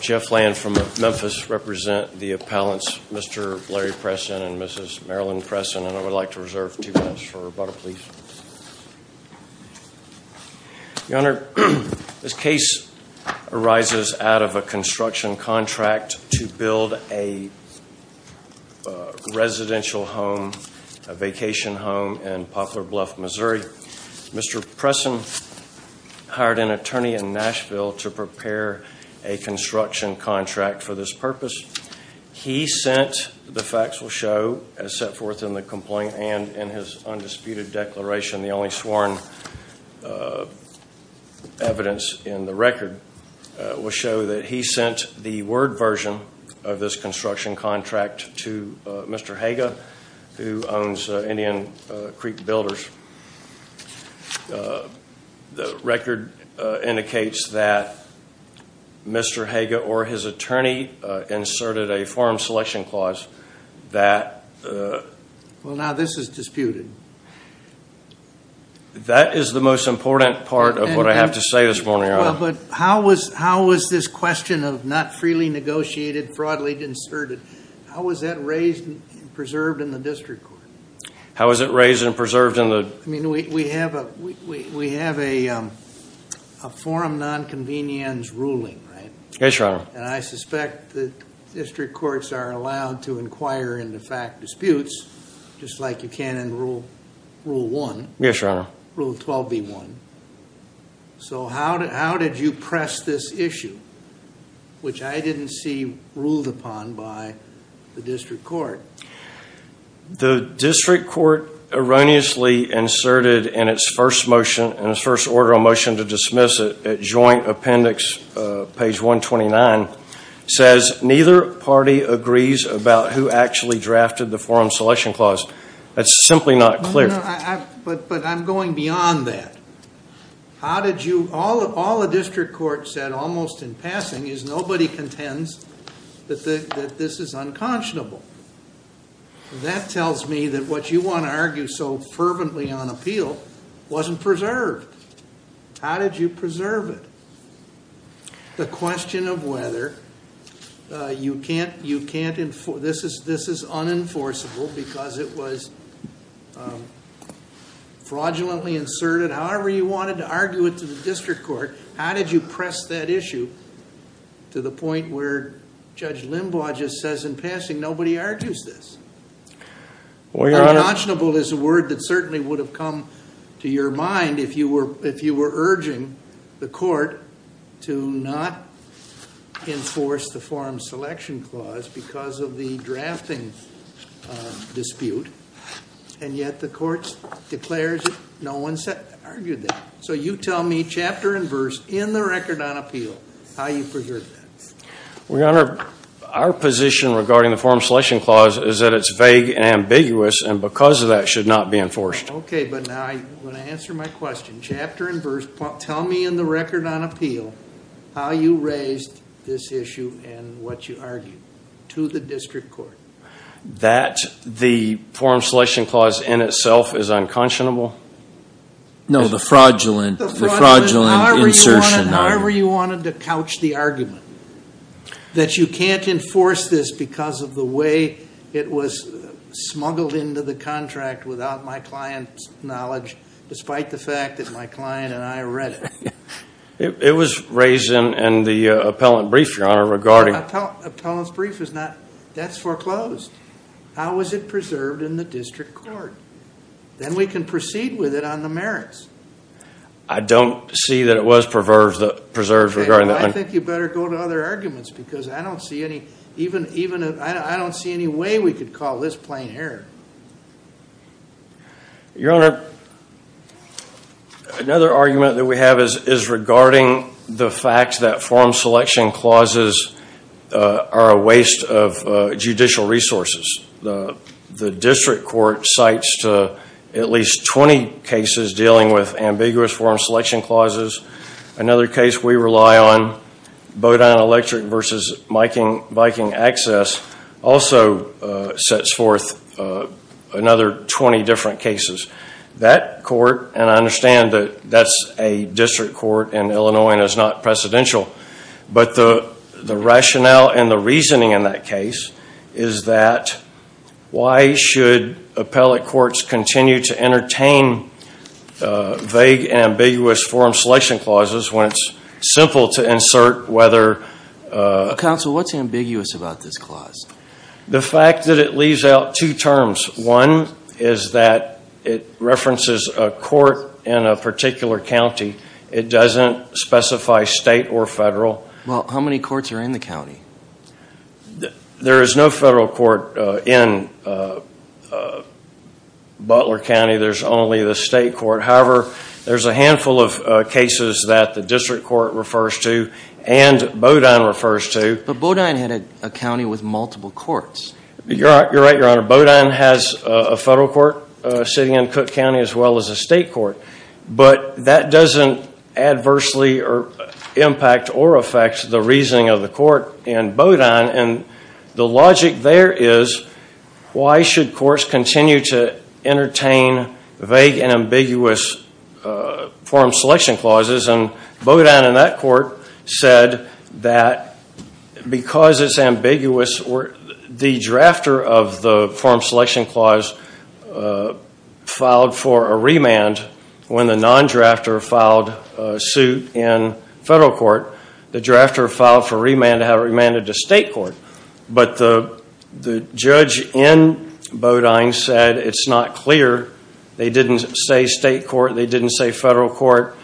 Jeff Land from Memphis represent the appellants Mr. Larry Presson and Mrs. Marilyn Presson and I would like to reserve two minutes for rebuttal please. Your Honor, this case arises out of a construction contract to build a residential home, a vacation home in Poplar Bluff, Missouri. Mr. Presson hired an attorney in Nashville to prepare a construction contract for this purpose. He sent, the facts will show, as set forth in the complaint and in his undisputed declaration, the only sworn evidence in the record, will show that he sent the word version of this construction contract to Mr. Haga who owns Indian Creek Builders. The record indicates that Mr. Haga or his attorney inserted a forum selection clause that... Well now this is disputed. That is the most important part of what I have to say this morning, Your Honor. But how was this question of not freely negotiated, fraudulently inserted, how was that raised and preserved in the district court? How is it raised and preserved in the... I mean we have a forum non-convenience ruling, right? Yes, Your Honor. And I suspect that district courts are allowed to inquire into fact disputes just like you can in Rule 1. Yes, Your Honor. Rule 12b1. So how did you press this issue which I The district court erroneously inserted in its first motion, in its first order of motion to dismiss it, at joint appendix page 129, says neither party agrees about who actually drafted the forum selection clause. That's simply not clear. But I'm going beyond that. How did you, all the district court said almost in passing is nobody contends that this is unconscionable. That tells me that what you want to argue so fervently on appeal wasn't preserved. How did you preserve it? The question of whether you can't, you can't enforce, this is, this is unenforceable because it was fraudulently inserted. However you wanted to argue it to the district court, how did you press that issue to the point where Judge Limbaugh just says in passing nobody argues this? Unconscionable is a word that certainly would have come to your mind if you were, if you were urging the court to not enforce the forum selection clause because of the drafting dispute. And yet the court declares no one said, argued that. So you tell me chapter and verse in the record on appeal, how you preserved that. Your Honor, our position regarding the forum selection clause is that it's vague and ambiguous and because of that should not be enforced. Okay, but now I want to answer my question. Chapter and verse, tell me in the record on appeal how you raised this issue and what you argued to the district court. That the forum selection clause in itself is unconscionable? No, the fraudulent, the fraudulent insertion. However you wanted to couch the argument that you can't enforce this because of the way it was smuggled into the contract without my client's knowledge, despite the fact that my client and I read it. It was raised in the appellant brief, Your Honor, regarding. Appellant's brief is not, that's foreclosed. How was it preserved in the district court? Then we can proceed with it on the merits. I don't see that it was preserved regarding that. I think you better go to other arguments because I don't see any, even, even, I don't see any way we could call this plain error. Your Honor, another argument that we have is, is regarding the fact that forum selection clauses are a waste of judicial resources. The district court cites to at least 20 cases dealing with ambiguous forum selection clauses. Another case we rely on, Bowdoin Electric versus Viking Access, also sets forth another 20 different cases. That court, and I understand that that's a presidential, but the, the rationale and the reasoning in that case is that why should appellate courts continue to entertain vague and ambiguous forum selection clauses when it's simple to insert whether. Counsel, what's ambiguous about this clause? The fact that it leaves out two terms. One is that it Well, how many courts are in the county? There is no federal court in Butler County. There's only the state court. However, there's a handful of cases that the district court refers to and Bowdoin refers to. But Bowdoin had a county with multiple courts. You're right, your Honor. Bowdoin has a federal court sitting in impact or affects the reasoning of the court in Bowdoin and the logic there is why should courts continue to entertain vague and ambiguous forum selection clauses and Bowdoin in that court said that because it's ambiguous or the drafter of the forum selection clause filed for a remand when the non-drafter filed suit in federal court, the drafter filed for remand had remanded to state court. But the, the judge in Bowdoin said it's not clear. They didn't say state court. They didn't say federal court.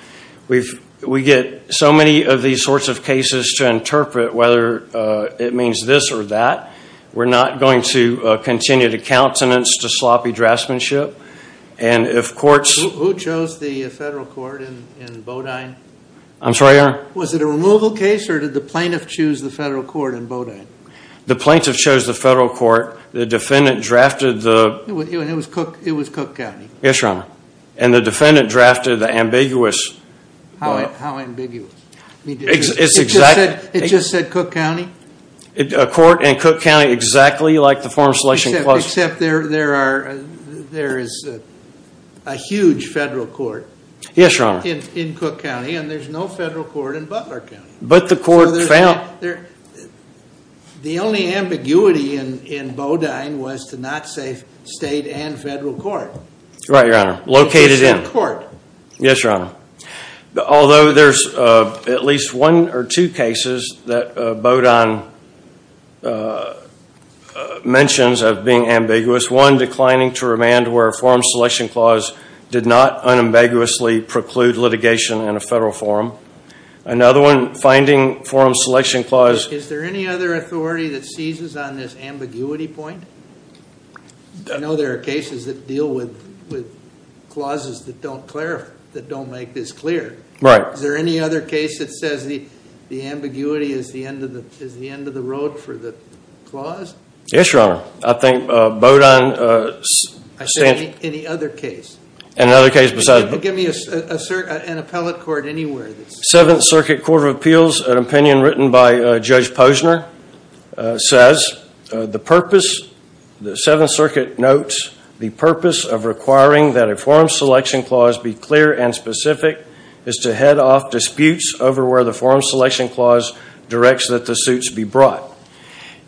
We've, we get so many of these sorts of cases to interpret whether it means this or that. We're not going to continue to I'm sorry, your Honor. Was it a removal case or did the plaintiff choose the federal court in Bowdoin? The plaintiff chose the federal court. The defendant drafted the It was Cook, it was Cook County. Yes, your Honor. And the defendant drafted the ambiguous. How, how ambiguous? It's exactly. It just said Cook County? A court in Cook County exactly like the forum selection clause. Except there, there are, there is a huge federal court. Yes, your Honor. In, in Cook County and there's no federal court in Butler County. But the court found. There, the only ambiguity in, in Bowdoin was to not say state and federal court. Right, your Honor. Located in. It just said court. Yes, your Honor. Although there's at least one or two cases that Bowdoin mentions of being ambiguous. One, declining to remand where a forum selection clause did not unambiguously preclude litigation in a federal forum. Another one, finding forum selection clause. Is there any other authority that seizes on this ambiguity point? I know there are cases that deal with, with clauses that don't clarify, that don't make this clear. Right. Is there any other case that says the, the ambiguity is the end of the, is the end of the road for the clause? Yes, your Honor. I think Bowdoin stands. I said any other case. Another case besides. Give me a, an appellate court anywhere. Seventh Circuit Court of Appeals, an opinion written by Judge Posner, says the purpose, the Seventh Circuit notes, the purpose of requiring that a forum selection clause be clear and specific is to head off disputes over where the forum selection clause directs that the suits be brought.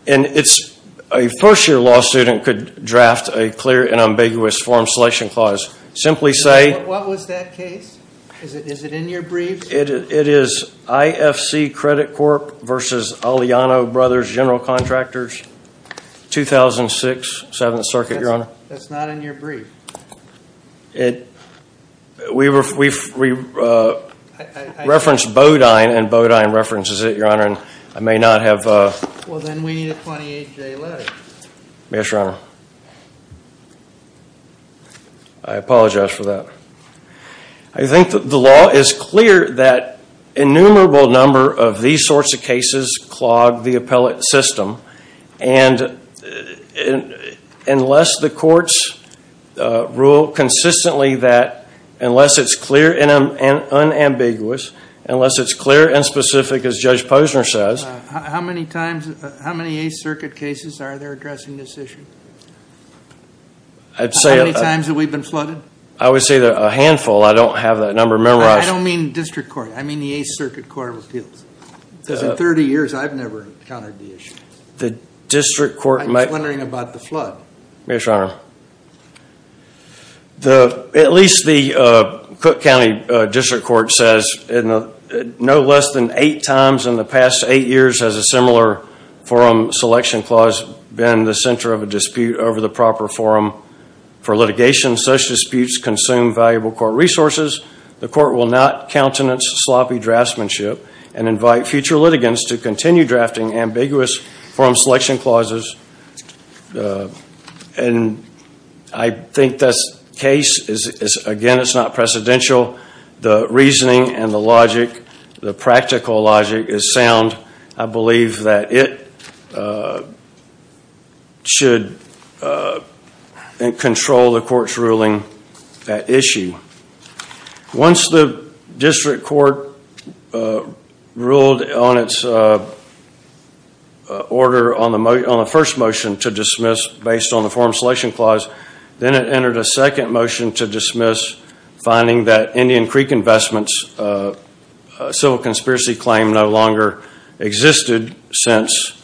And it's, a first year law student could draft a clear and ambiguous forum selection clause. Simply say. What was that case? Is it, is it in your brief? It, it is IFC Credit Corp. versus Aliano Brothers General Contractors, 2006, Seventh Circuit, your Honor. That's not in your brief. It, we were, we referenced Bowdoin and Bowdoin references it, your Honor, and I may not have. Well then we need a 28-day letter. Yes, your Honor. I apologize for that. I think that the law is clear that innumerable number of these sorts of cases clog the appellate system and unless the courts rule consistently that, unless it's clear and unambiguous, unless it's clear and specific as Judge Posner says. How many times, how many Eighth Circuit cases are there addressing this issue? I'd say. How many times have we been flooded? I would say that a handful. I don't have that number memorized. I don't mean District Court. I mean the Eighth Circuit Court of Appeals. Because in 30 years I've never encountered the issue. The District Court might. I'm just wondering about the flood. Yes, your Honor. At least the Cook County District Court says no less than eight times in the past eight years has a similar forum selection clause been the center of a dispute over the proper forum for litigation. Such disputes consume valuable court resources. The court will not countenance sloppy draftsmanship and invite future litigants to continue drafting ambiguous forum selection clauses. And I think this case is, again, it's not precedential. The reasoning and the logic, the practical logic is sound. I believe that it should control the court's ruling that issue. Once the District Court ruled on its order on the first motion to dismiss based on the forum selection clause, then it entered a second motion to dismiss finding that Indian Creek Investments' civil conspiracy claim no longer existed since,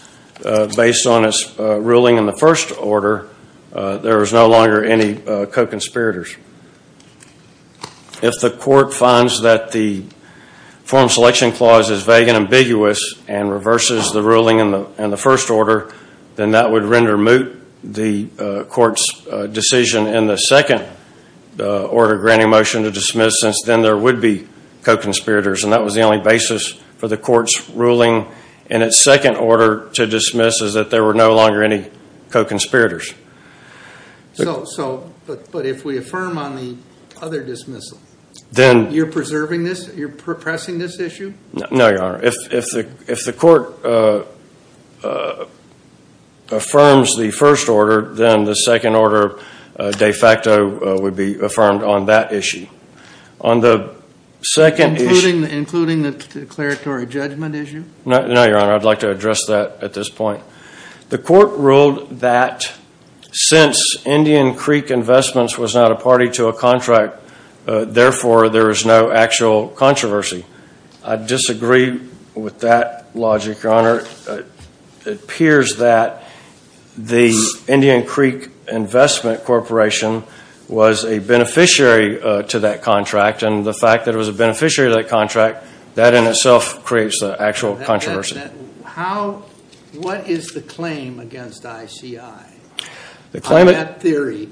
based on its ruling in the first order, there was no longer any co-conspirators. If the court finds that the forum selection clause is vague and ambiguous and reverses the ruling in the first order, then that would render moot the court's decision in the second order granting motion to dismiss since then there would be co-conspirators. And that was the only basis for the court's ruling in its second order to dismiss is that there were no longer any co-conspirators. But if we affirm on the other dismissal, you're preserving this? You're repressing this issue? No, Your Honor. If the court affirms the first order, then the second order de facto would be affirmed on that issue. Including the declaratory judgment issue? No, Your Honor. I'd like to address that at this point. The court ruled that since Indian Creek Investments was not a party to a contract, therefore there is no actual controversy. I disagree with that logic, Your Honor. It appears that the Indian Creek Investment Corporation was a beneficiary to that contract, and the fact that it was a beneficiary to that contract, that in itself creates the actual controversy. What is the claim against ICI on that theory,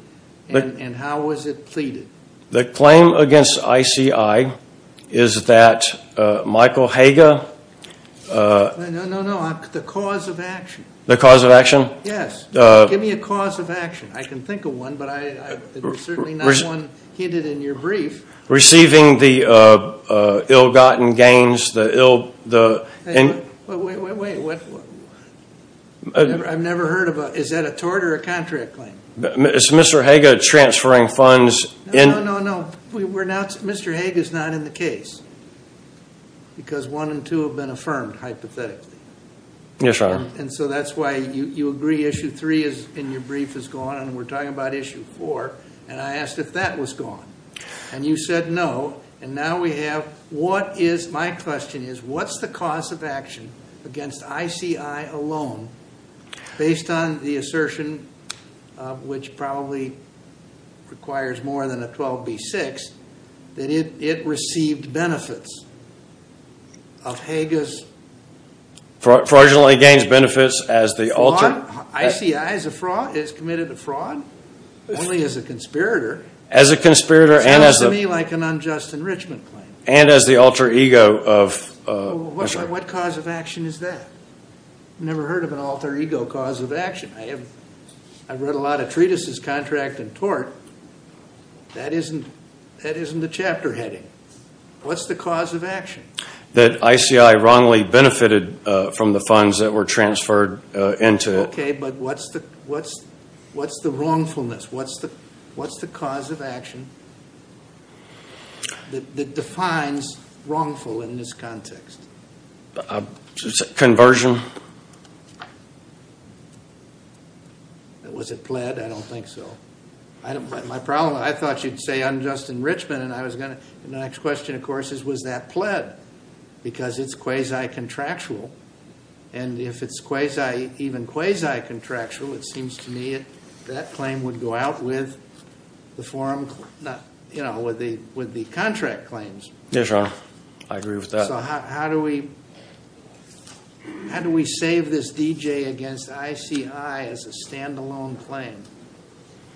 and how was it pleaded? The claim against ICI is that Michael Hager... No, no, no. The cause of action. The cause of action? Yes. Give me a cause of action. I can think of one, but there's certainly not one hinted in your brief. Receiving the ill-gotten gains, the ill... Wait, wait, wait. I've never heard of a... Is that a tort or a contract claim? Is Mr. Hager transferring funds in... No, no, no. Mr. Hager is not in the case, because one and two have been affirmed, hypothetically. Yes, Your Honor. And so that's why you agree issue three in your brief is gone, and we're talking about issue four, and I asked if that was gone. And you said no, and now we have what is... My question is, what's the cause of action against ICI alone, based on the assertion, which probably requires more than a 12B6, that it received benefits of Hager's... Fraudulently gains benefits as the alter... ICI is a fraud. It's committed a fraud only as a conspirator. As a conspirator and as a... Sounds to me like an unjust enrichment claim. And as the alter ego of... What cause of action is that? I've never heard of an alter ego cause of action. I have... I've read a lot of treatises, contract and tort. That isn't the chapter heading. What's the cause of action? That ICI wrongly benefited from the funds that were transferred into it. Okay, but what's the wrongfulness? What's the cause of action that defines wrongful in this context? Conversion. Was it pled? I don't think so. I don't... My problem... I thought you'd say unjust enrichment, and I was going to... And the next question, of course, is was that pled? Because it's quasi-contractual. And if it's quasi... even quasi-contractual, it seems to me that claim would go out with the form... You know, with the contract claims. Yes, Your Honor. I agree with that. So how do we... How do we save this DJ against ICI as a standalone claim?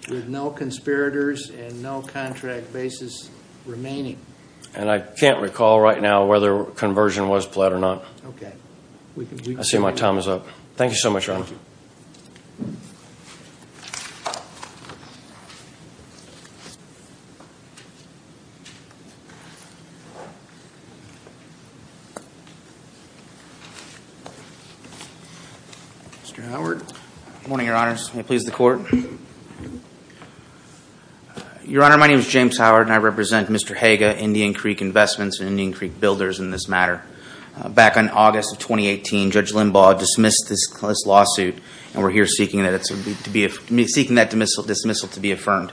With no conspirators and no contract basis remaining. And I can't recall right now whether conversion was pled or not. Okay. I see my time is up. Thank you so much, Your Honor. Mr. Howard. Good morning, Your Honors. May it please the Court? Your Honor, my name is James Howard, and I represent Mr. Haga, Indian Creek Investments and Indian Creek Builders in this matter. Back in August of 2018, Judge Limbaugh dismissed this lawsuit, and we're here seeking that dismissal to be affirmed.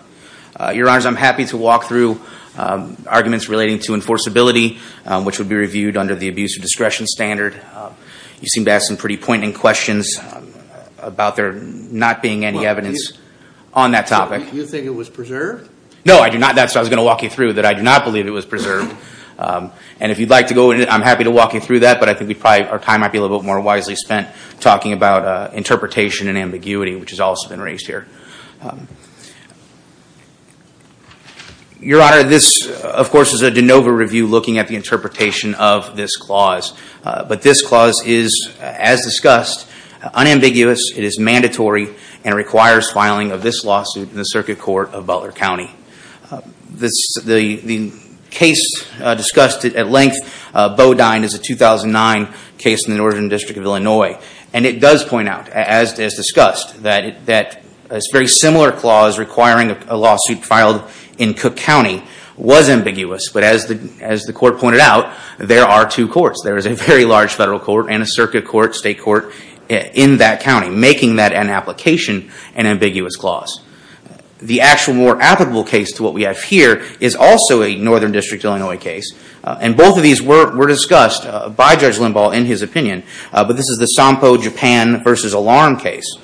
Your Honors, I'm happy to walk through arguments relating to enforceability, which would be reviewed under the abuse of discretion standard. You seem to have some pretty poignant questions about there not being any evidence... on that topic. You think it was preserved? No, I do not. That's what I was going to walk you through, that I do not believe it was preserved. And if you'd like to go into it, I'm happy to walk you through that, but I think our time might be a little bit more wisely spent talking about interpretation and ambiguity, which has also been raised here. Your Honor, this, of course, is a de novo review looking at the interpretation of this clause. But this clause is, as discussed, unambiguous, it is mandatory, and it requires filing of this lawsuit in the Circuit Court of Butler County. The case discussed at length, Bodine, is a 2009 case in the Northern District of Illinois. And it does point out, as discussed, that a very similar clause requiring a lawsuit filed in Cook County was ambiguous, but as the Court pointed out, there are two courts. There is a very large federal court and a circuit court, state court, in that county, making that an application, an ambiguous clause. The actual more applicable case to what we have here is also a Northern District of Illinois case. And both of these were discussed by Judge Limbaugh in his opinion. But this is the SOMPO Japan v. Alarm case.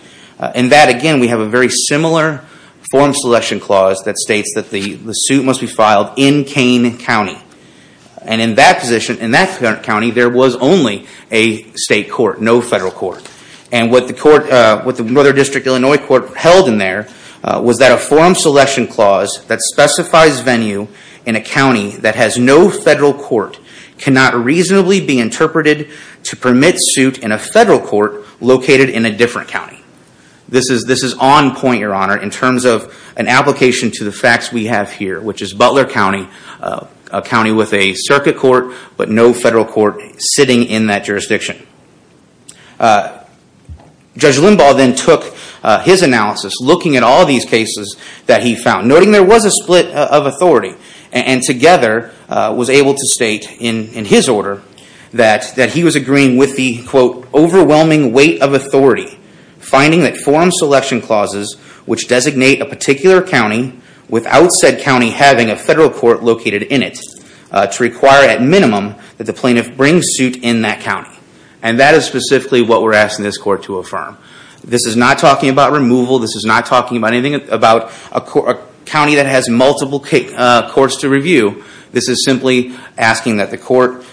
In that, again, we have a very similar form selection clause that states that the suit must be filed in Kane County. And in that position, in that county, there was only a state court, no federal court. And what the Northern District of Illinois Court held in there was that a form selection clause that specifies venue in a county that has no federal court cannot reasonably be interpreted to permit suit in a federal court located in a different county. This is on point, Your Honor, in terms of an application to the facts we have here, which is Butler County, a county with a circuit court, but no federal court sitting in that jurisdiction. Judge Limbaugh then took his analysis, looking at all these cases that he found, noting there was a split of authority, and together was able to state in his order that he was agreeing with the, quote, overwhelming weight of authority, finding that form selection clauses which designate a particular county without said county having a federal court located in it, to require at minimum that the plaintiff bring suit in that county. And that is specifically what we're asking this court to affirm. This is not talking about removal. This is not talking about anything about a county that has multiple courts to review. This is simply asking that the court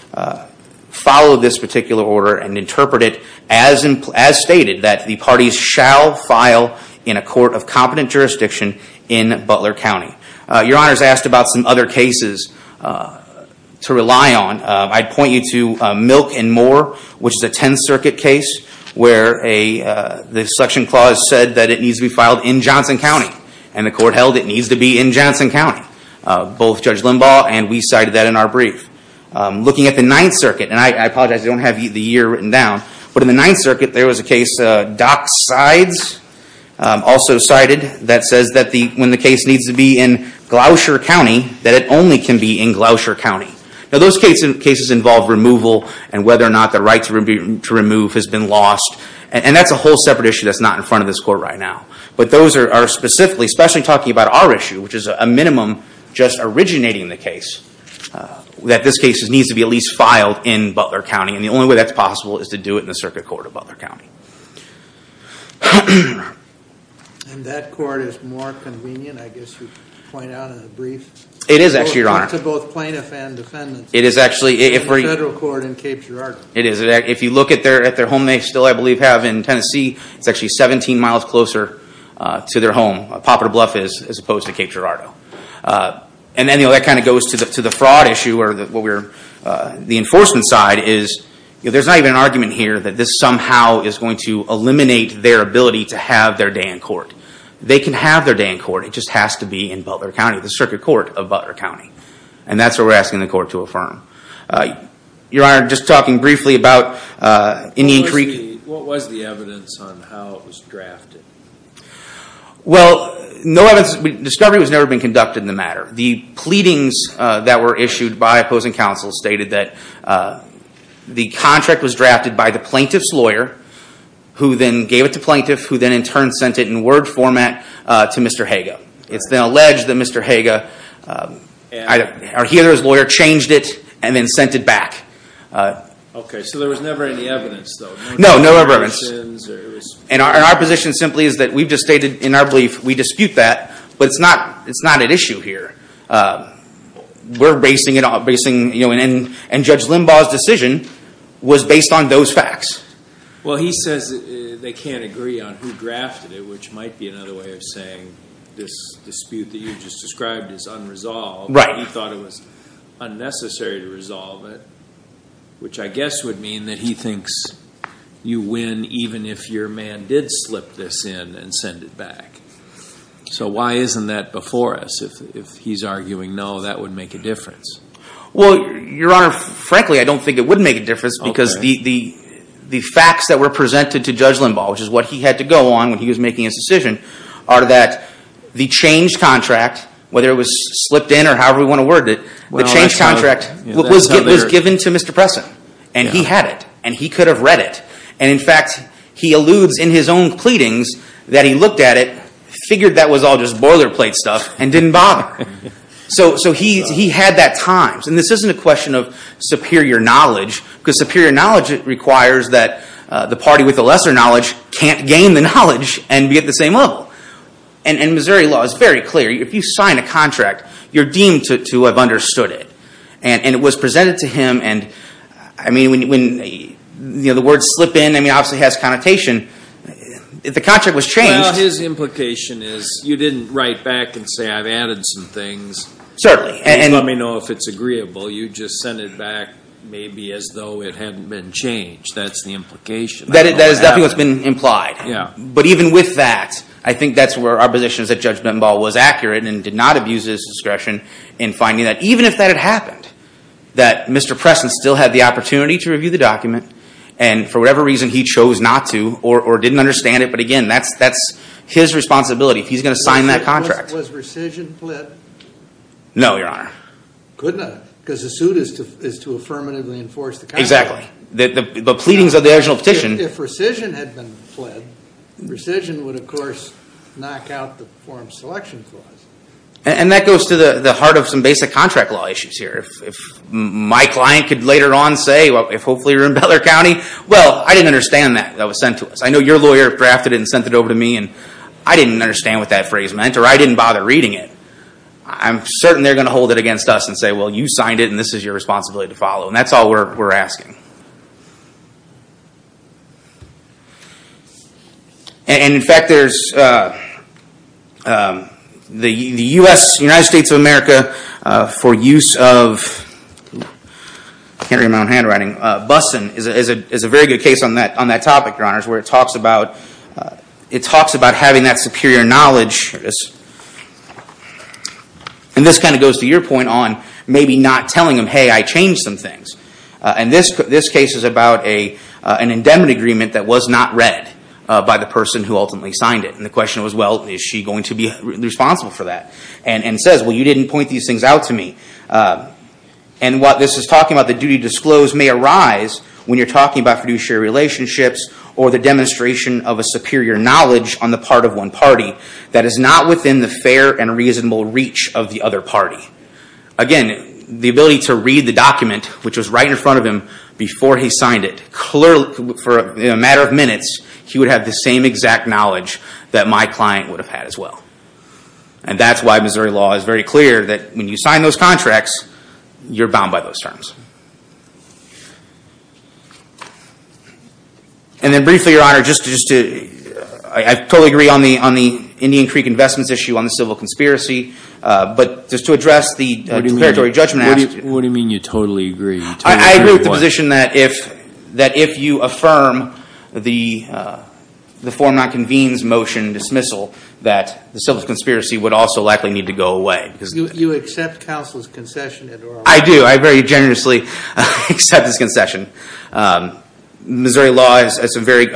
follow this particular order and interpret it as stated that the parties shall file in a court of competent jurisdiction in Butler County. Your Honor has asked about some other cases to rely on. I'd point you to Milk and Moore, which is a Tenth Circuit case where the selection clause said that it needs to be filed in Johnson County, and the court held it needs to be in Johnson County. Both Judge Limbaugh and we cited that in our brief. Looking at the Ninth Circuit, and I apologize, I don't have the year written down, but in the Ninth Circuit there was a case, Dock Sides, also cited, that says that when the case needs to be in Gloucester County, that it only can be in Gloucester County. Now those cases involve removal and whether or not the right to remove has been lost. And that's a whole separate issue that's not in front of this court right now. But those are specifically, especially talking about our issue, which is a minimum just originating the case, that this case needs to be at least filed in Butler County. And the only way that's possible is to do it in the Circuit Court of Butler County. And that court is more convenient, I guess you point out in the brief. It is actually, Your Honor. To both plaintiff and defendant. It is actually. The federal court in Cape Girardeau. It is. If you look at their home they still, I believe, have in Tennessee, it's actually 17 miles closer to their home, Poplar Bluff is, as opposed to Cape Girardeau. And then, you know, that kind of goes to the fraud issue, or the enforcement side is, there's not even an argument here that this somehow is going to eliminate their ability to have their day in court. They can have their day in court, it just has to be in Butler County, the Circuit Court of Butler County. And that's what we're asking the court to affirm. Your Honor, just talking briefly about. What was the evidence on how it was drafted? Well, no evidence. Discovery has never been conducted in the matter. The pleadings that were issued by opposing counsel stated that the contract was drafted by the plaintiff's lawyer, who then gave it to plaintiff, who then in turn sent it in word format to Mr. Haga. It's then alleged that Mr. Haga, or he or his lawyer, changed it and then sent it back. Okay, so there was never any evidence though? No, no evidence. And our position simply is that we've just stated in our belief, we dispute that, but it's not at issue here. We're basing it on, and Judge Limbaugh's decision was based on those facts. Well, he says they can't agree on who drafted it, which might be another way of saying this dispute that you just described is unresolved. Right. He thought it was unnecessary to resolve it, which I guess would mean that he thinks you win even if your man did slip this in and send it back. So why isn't that before us? If he's arguing no, that would make a difference. Well, Your Honor, frankly, I don't think it would make a difference because the facts that were presented to Judge Limbaugh, which is what he had to go on when he was making his decision, are that the changed contract, whether it was slipped in or however we want to word it, the changed contract was given to Mr. Presson, and he had it, and he could have read it. In fact, he alludes in his own pleadings that he looked at it, figured that was all just boilerplate stuff, and didn't bother. So he had that time. This isn't a question of superior knowledge because superior knowledge requires that the party with the lesser knowledge can't gain the knowledge and be at the same level. Missouri law is very clear. If you sign a contract, you're deemed to have understood it. And it was presented to him. The word slip in obviously has connotation. The contract was changed. Well, his implication is you didn't write back and say, I've added some things. Certainly. Please let me know if it's agreeable. You just sent it back maybe as though it hadn't been changed. That's the implication. That is definitely what's been implied. But even with that, I think that's where our position is that Judge Limbaugh was accurate and did not abuse his discretion in finding that, even if that had happened, that Mr. Preston still had the opportunity to review the document and for whatever reason he chose not to or didn't understand it. But, again, that's his responsibility. He's going to sign that contract. Was rescission pled? No, Your Honor. Could not because the suit is to affirmatively enforce the contract. Exactly. The pleadings of the original petition. If rescission had been pled, rescission would, of course, knock out the form selection clause. And that goes to the heart of some basic contract law issues here. If my client could later on say, if hopefully you're in Beller County, well, I didn't understand that that was sent to us. I know your lawyer drafted it and sent it over to me and I didn't understand what that phrase meant or I didn't bother reading it. I'm certain they're going to hold it against us and say, well, you signed it and this is your responsibility to follow. And that's all we're asking. And, in fact, there's the U.S., United States of America, for use of, I can't remember my own handwriting, BUSN is a very good case on that topic, Your Honors, where it talks about having that superior knowledge. And this kind of goes to your point on maybe not telling them, hey, I changed some things. And this case is about an endowment agreement that was not read by the person who ultimately signed it. And the question was, well, is she going to be responsible for that? And it says, well, you didn't point these things out to me. And what this is talking about, the duty to disclose, may arise when you're talking about fiduciary relationships or the demonstration of a superior knowledge on the part of one party that is not within the fair and reasonable reach of the other party. Again, the ability to read the document, which was right in front of him before he signed it. Clearly, for a matter of minutes, he would have the same exact knowledge that my client would have had as well. And that's why Missouri law is very clear that when you sign those contracts, you're bound by those terms. And then briefly, Your Honor, I totally agree on the Indian Creek investments issue, on the civil conspiracy, but just to address the preparatory judgment. What do you mean you totally agree? I agree with the position that if you affirm the form not convenes motion dismissal, that the civil conspiracy would also likely need to go away. You accept counsel's concession, Your Honor? I do. I very generously accept his concession. Missouri law is a very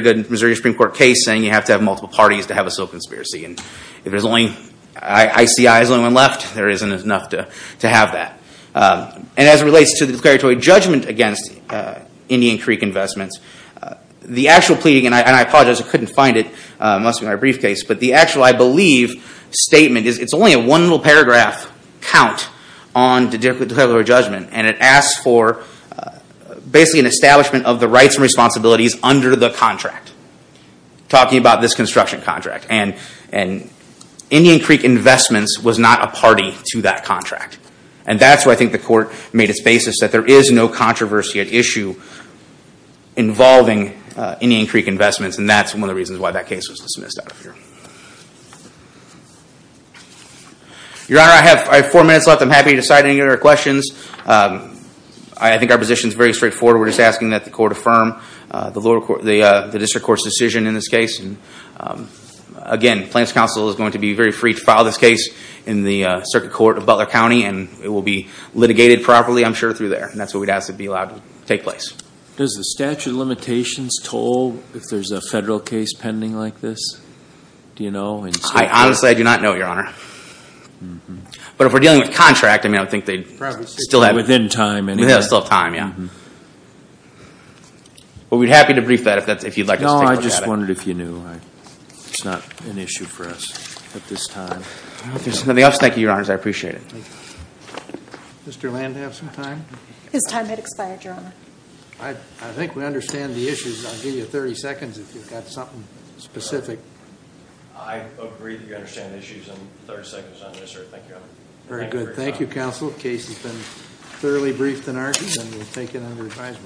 good Missouri Supreme Court case, saying you have to have multiple parties to have a civil conspiracy. And if ICI is the only one left, there isn't enough to have that. And as it relates to the preparatory judgment against Indian Creek investments, the actual plea, and I apologize, I couldn't find it. It must be in my briefcase. But the actual, I believe, statement, it's only a one little paragraph count on the preparatory judgment, and it asks for basically an establishment of the rights and responsibilities under the contract. Talking about this construction contract. And Indian Creek investments was not a party to that contract. And that's where I think the court made its basis, that there is no controversy at issue involving Indian Creek investments, and that's one of the reasons why that case was dismissed out of here. Your Honor, I have four minutes left. I'm happy to cite any other questions. I think our position is very straightforward. We're just asking that the court affirm the district court's decision in this case. Again, Plaintiff's counsel is going to be very free to file this case in the circuit court of Butler County, and it will be litigated properly, I'm sure, through there. And that's what we'd ask to be allowed to take place. Does the statute of limitations toll if there's a federal case pending like this? Do you know? Honestly, I do not know, Your Honor. But if we're dealing with a contract, I think they'd still have time. We'd still have time, yeah. But we'd be happy to brief that if you'd like us to take a look at it. No, I just wondered if you knew. It's not an issue for us at this time. If there's nothing else, thank you, Your Honors. I appreciate it. Mr. Land, do you have some time? His time has expired, Your Honor. I think we understand the issues. I'll give you 30 seconds if you've got something specific. I agree that we understand the issues. I'm 30 seconds on this, sir. Thank you, Your Honor. Very good. Thank you, counsel. The case has been thoroughly briefed and argued, and we'll take it under advisement.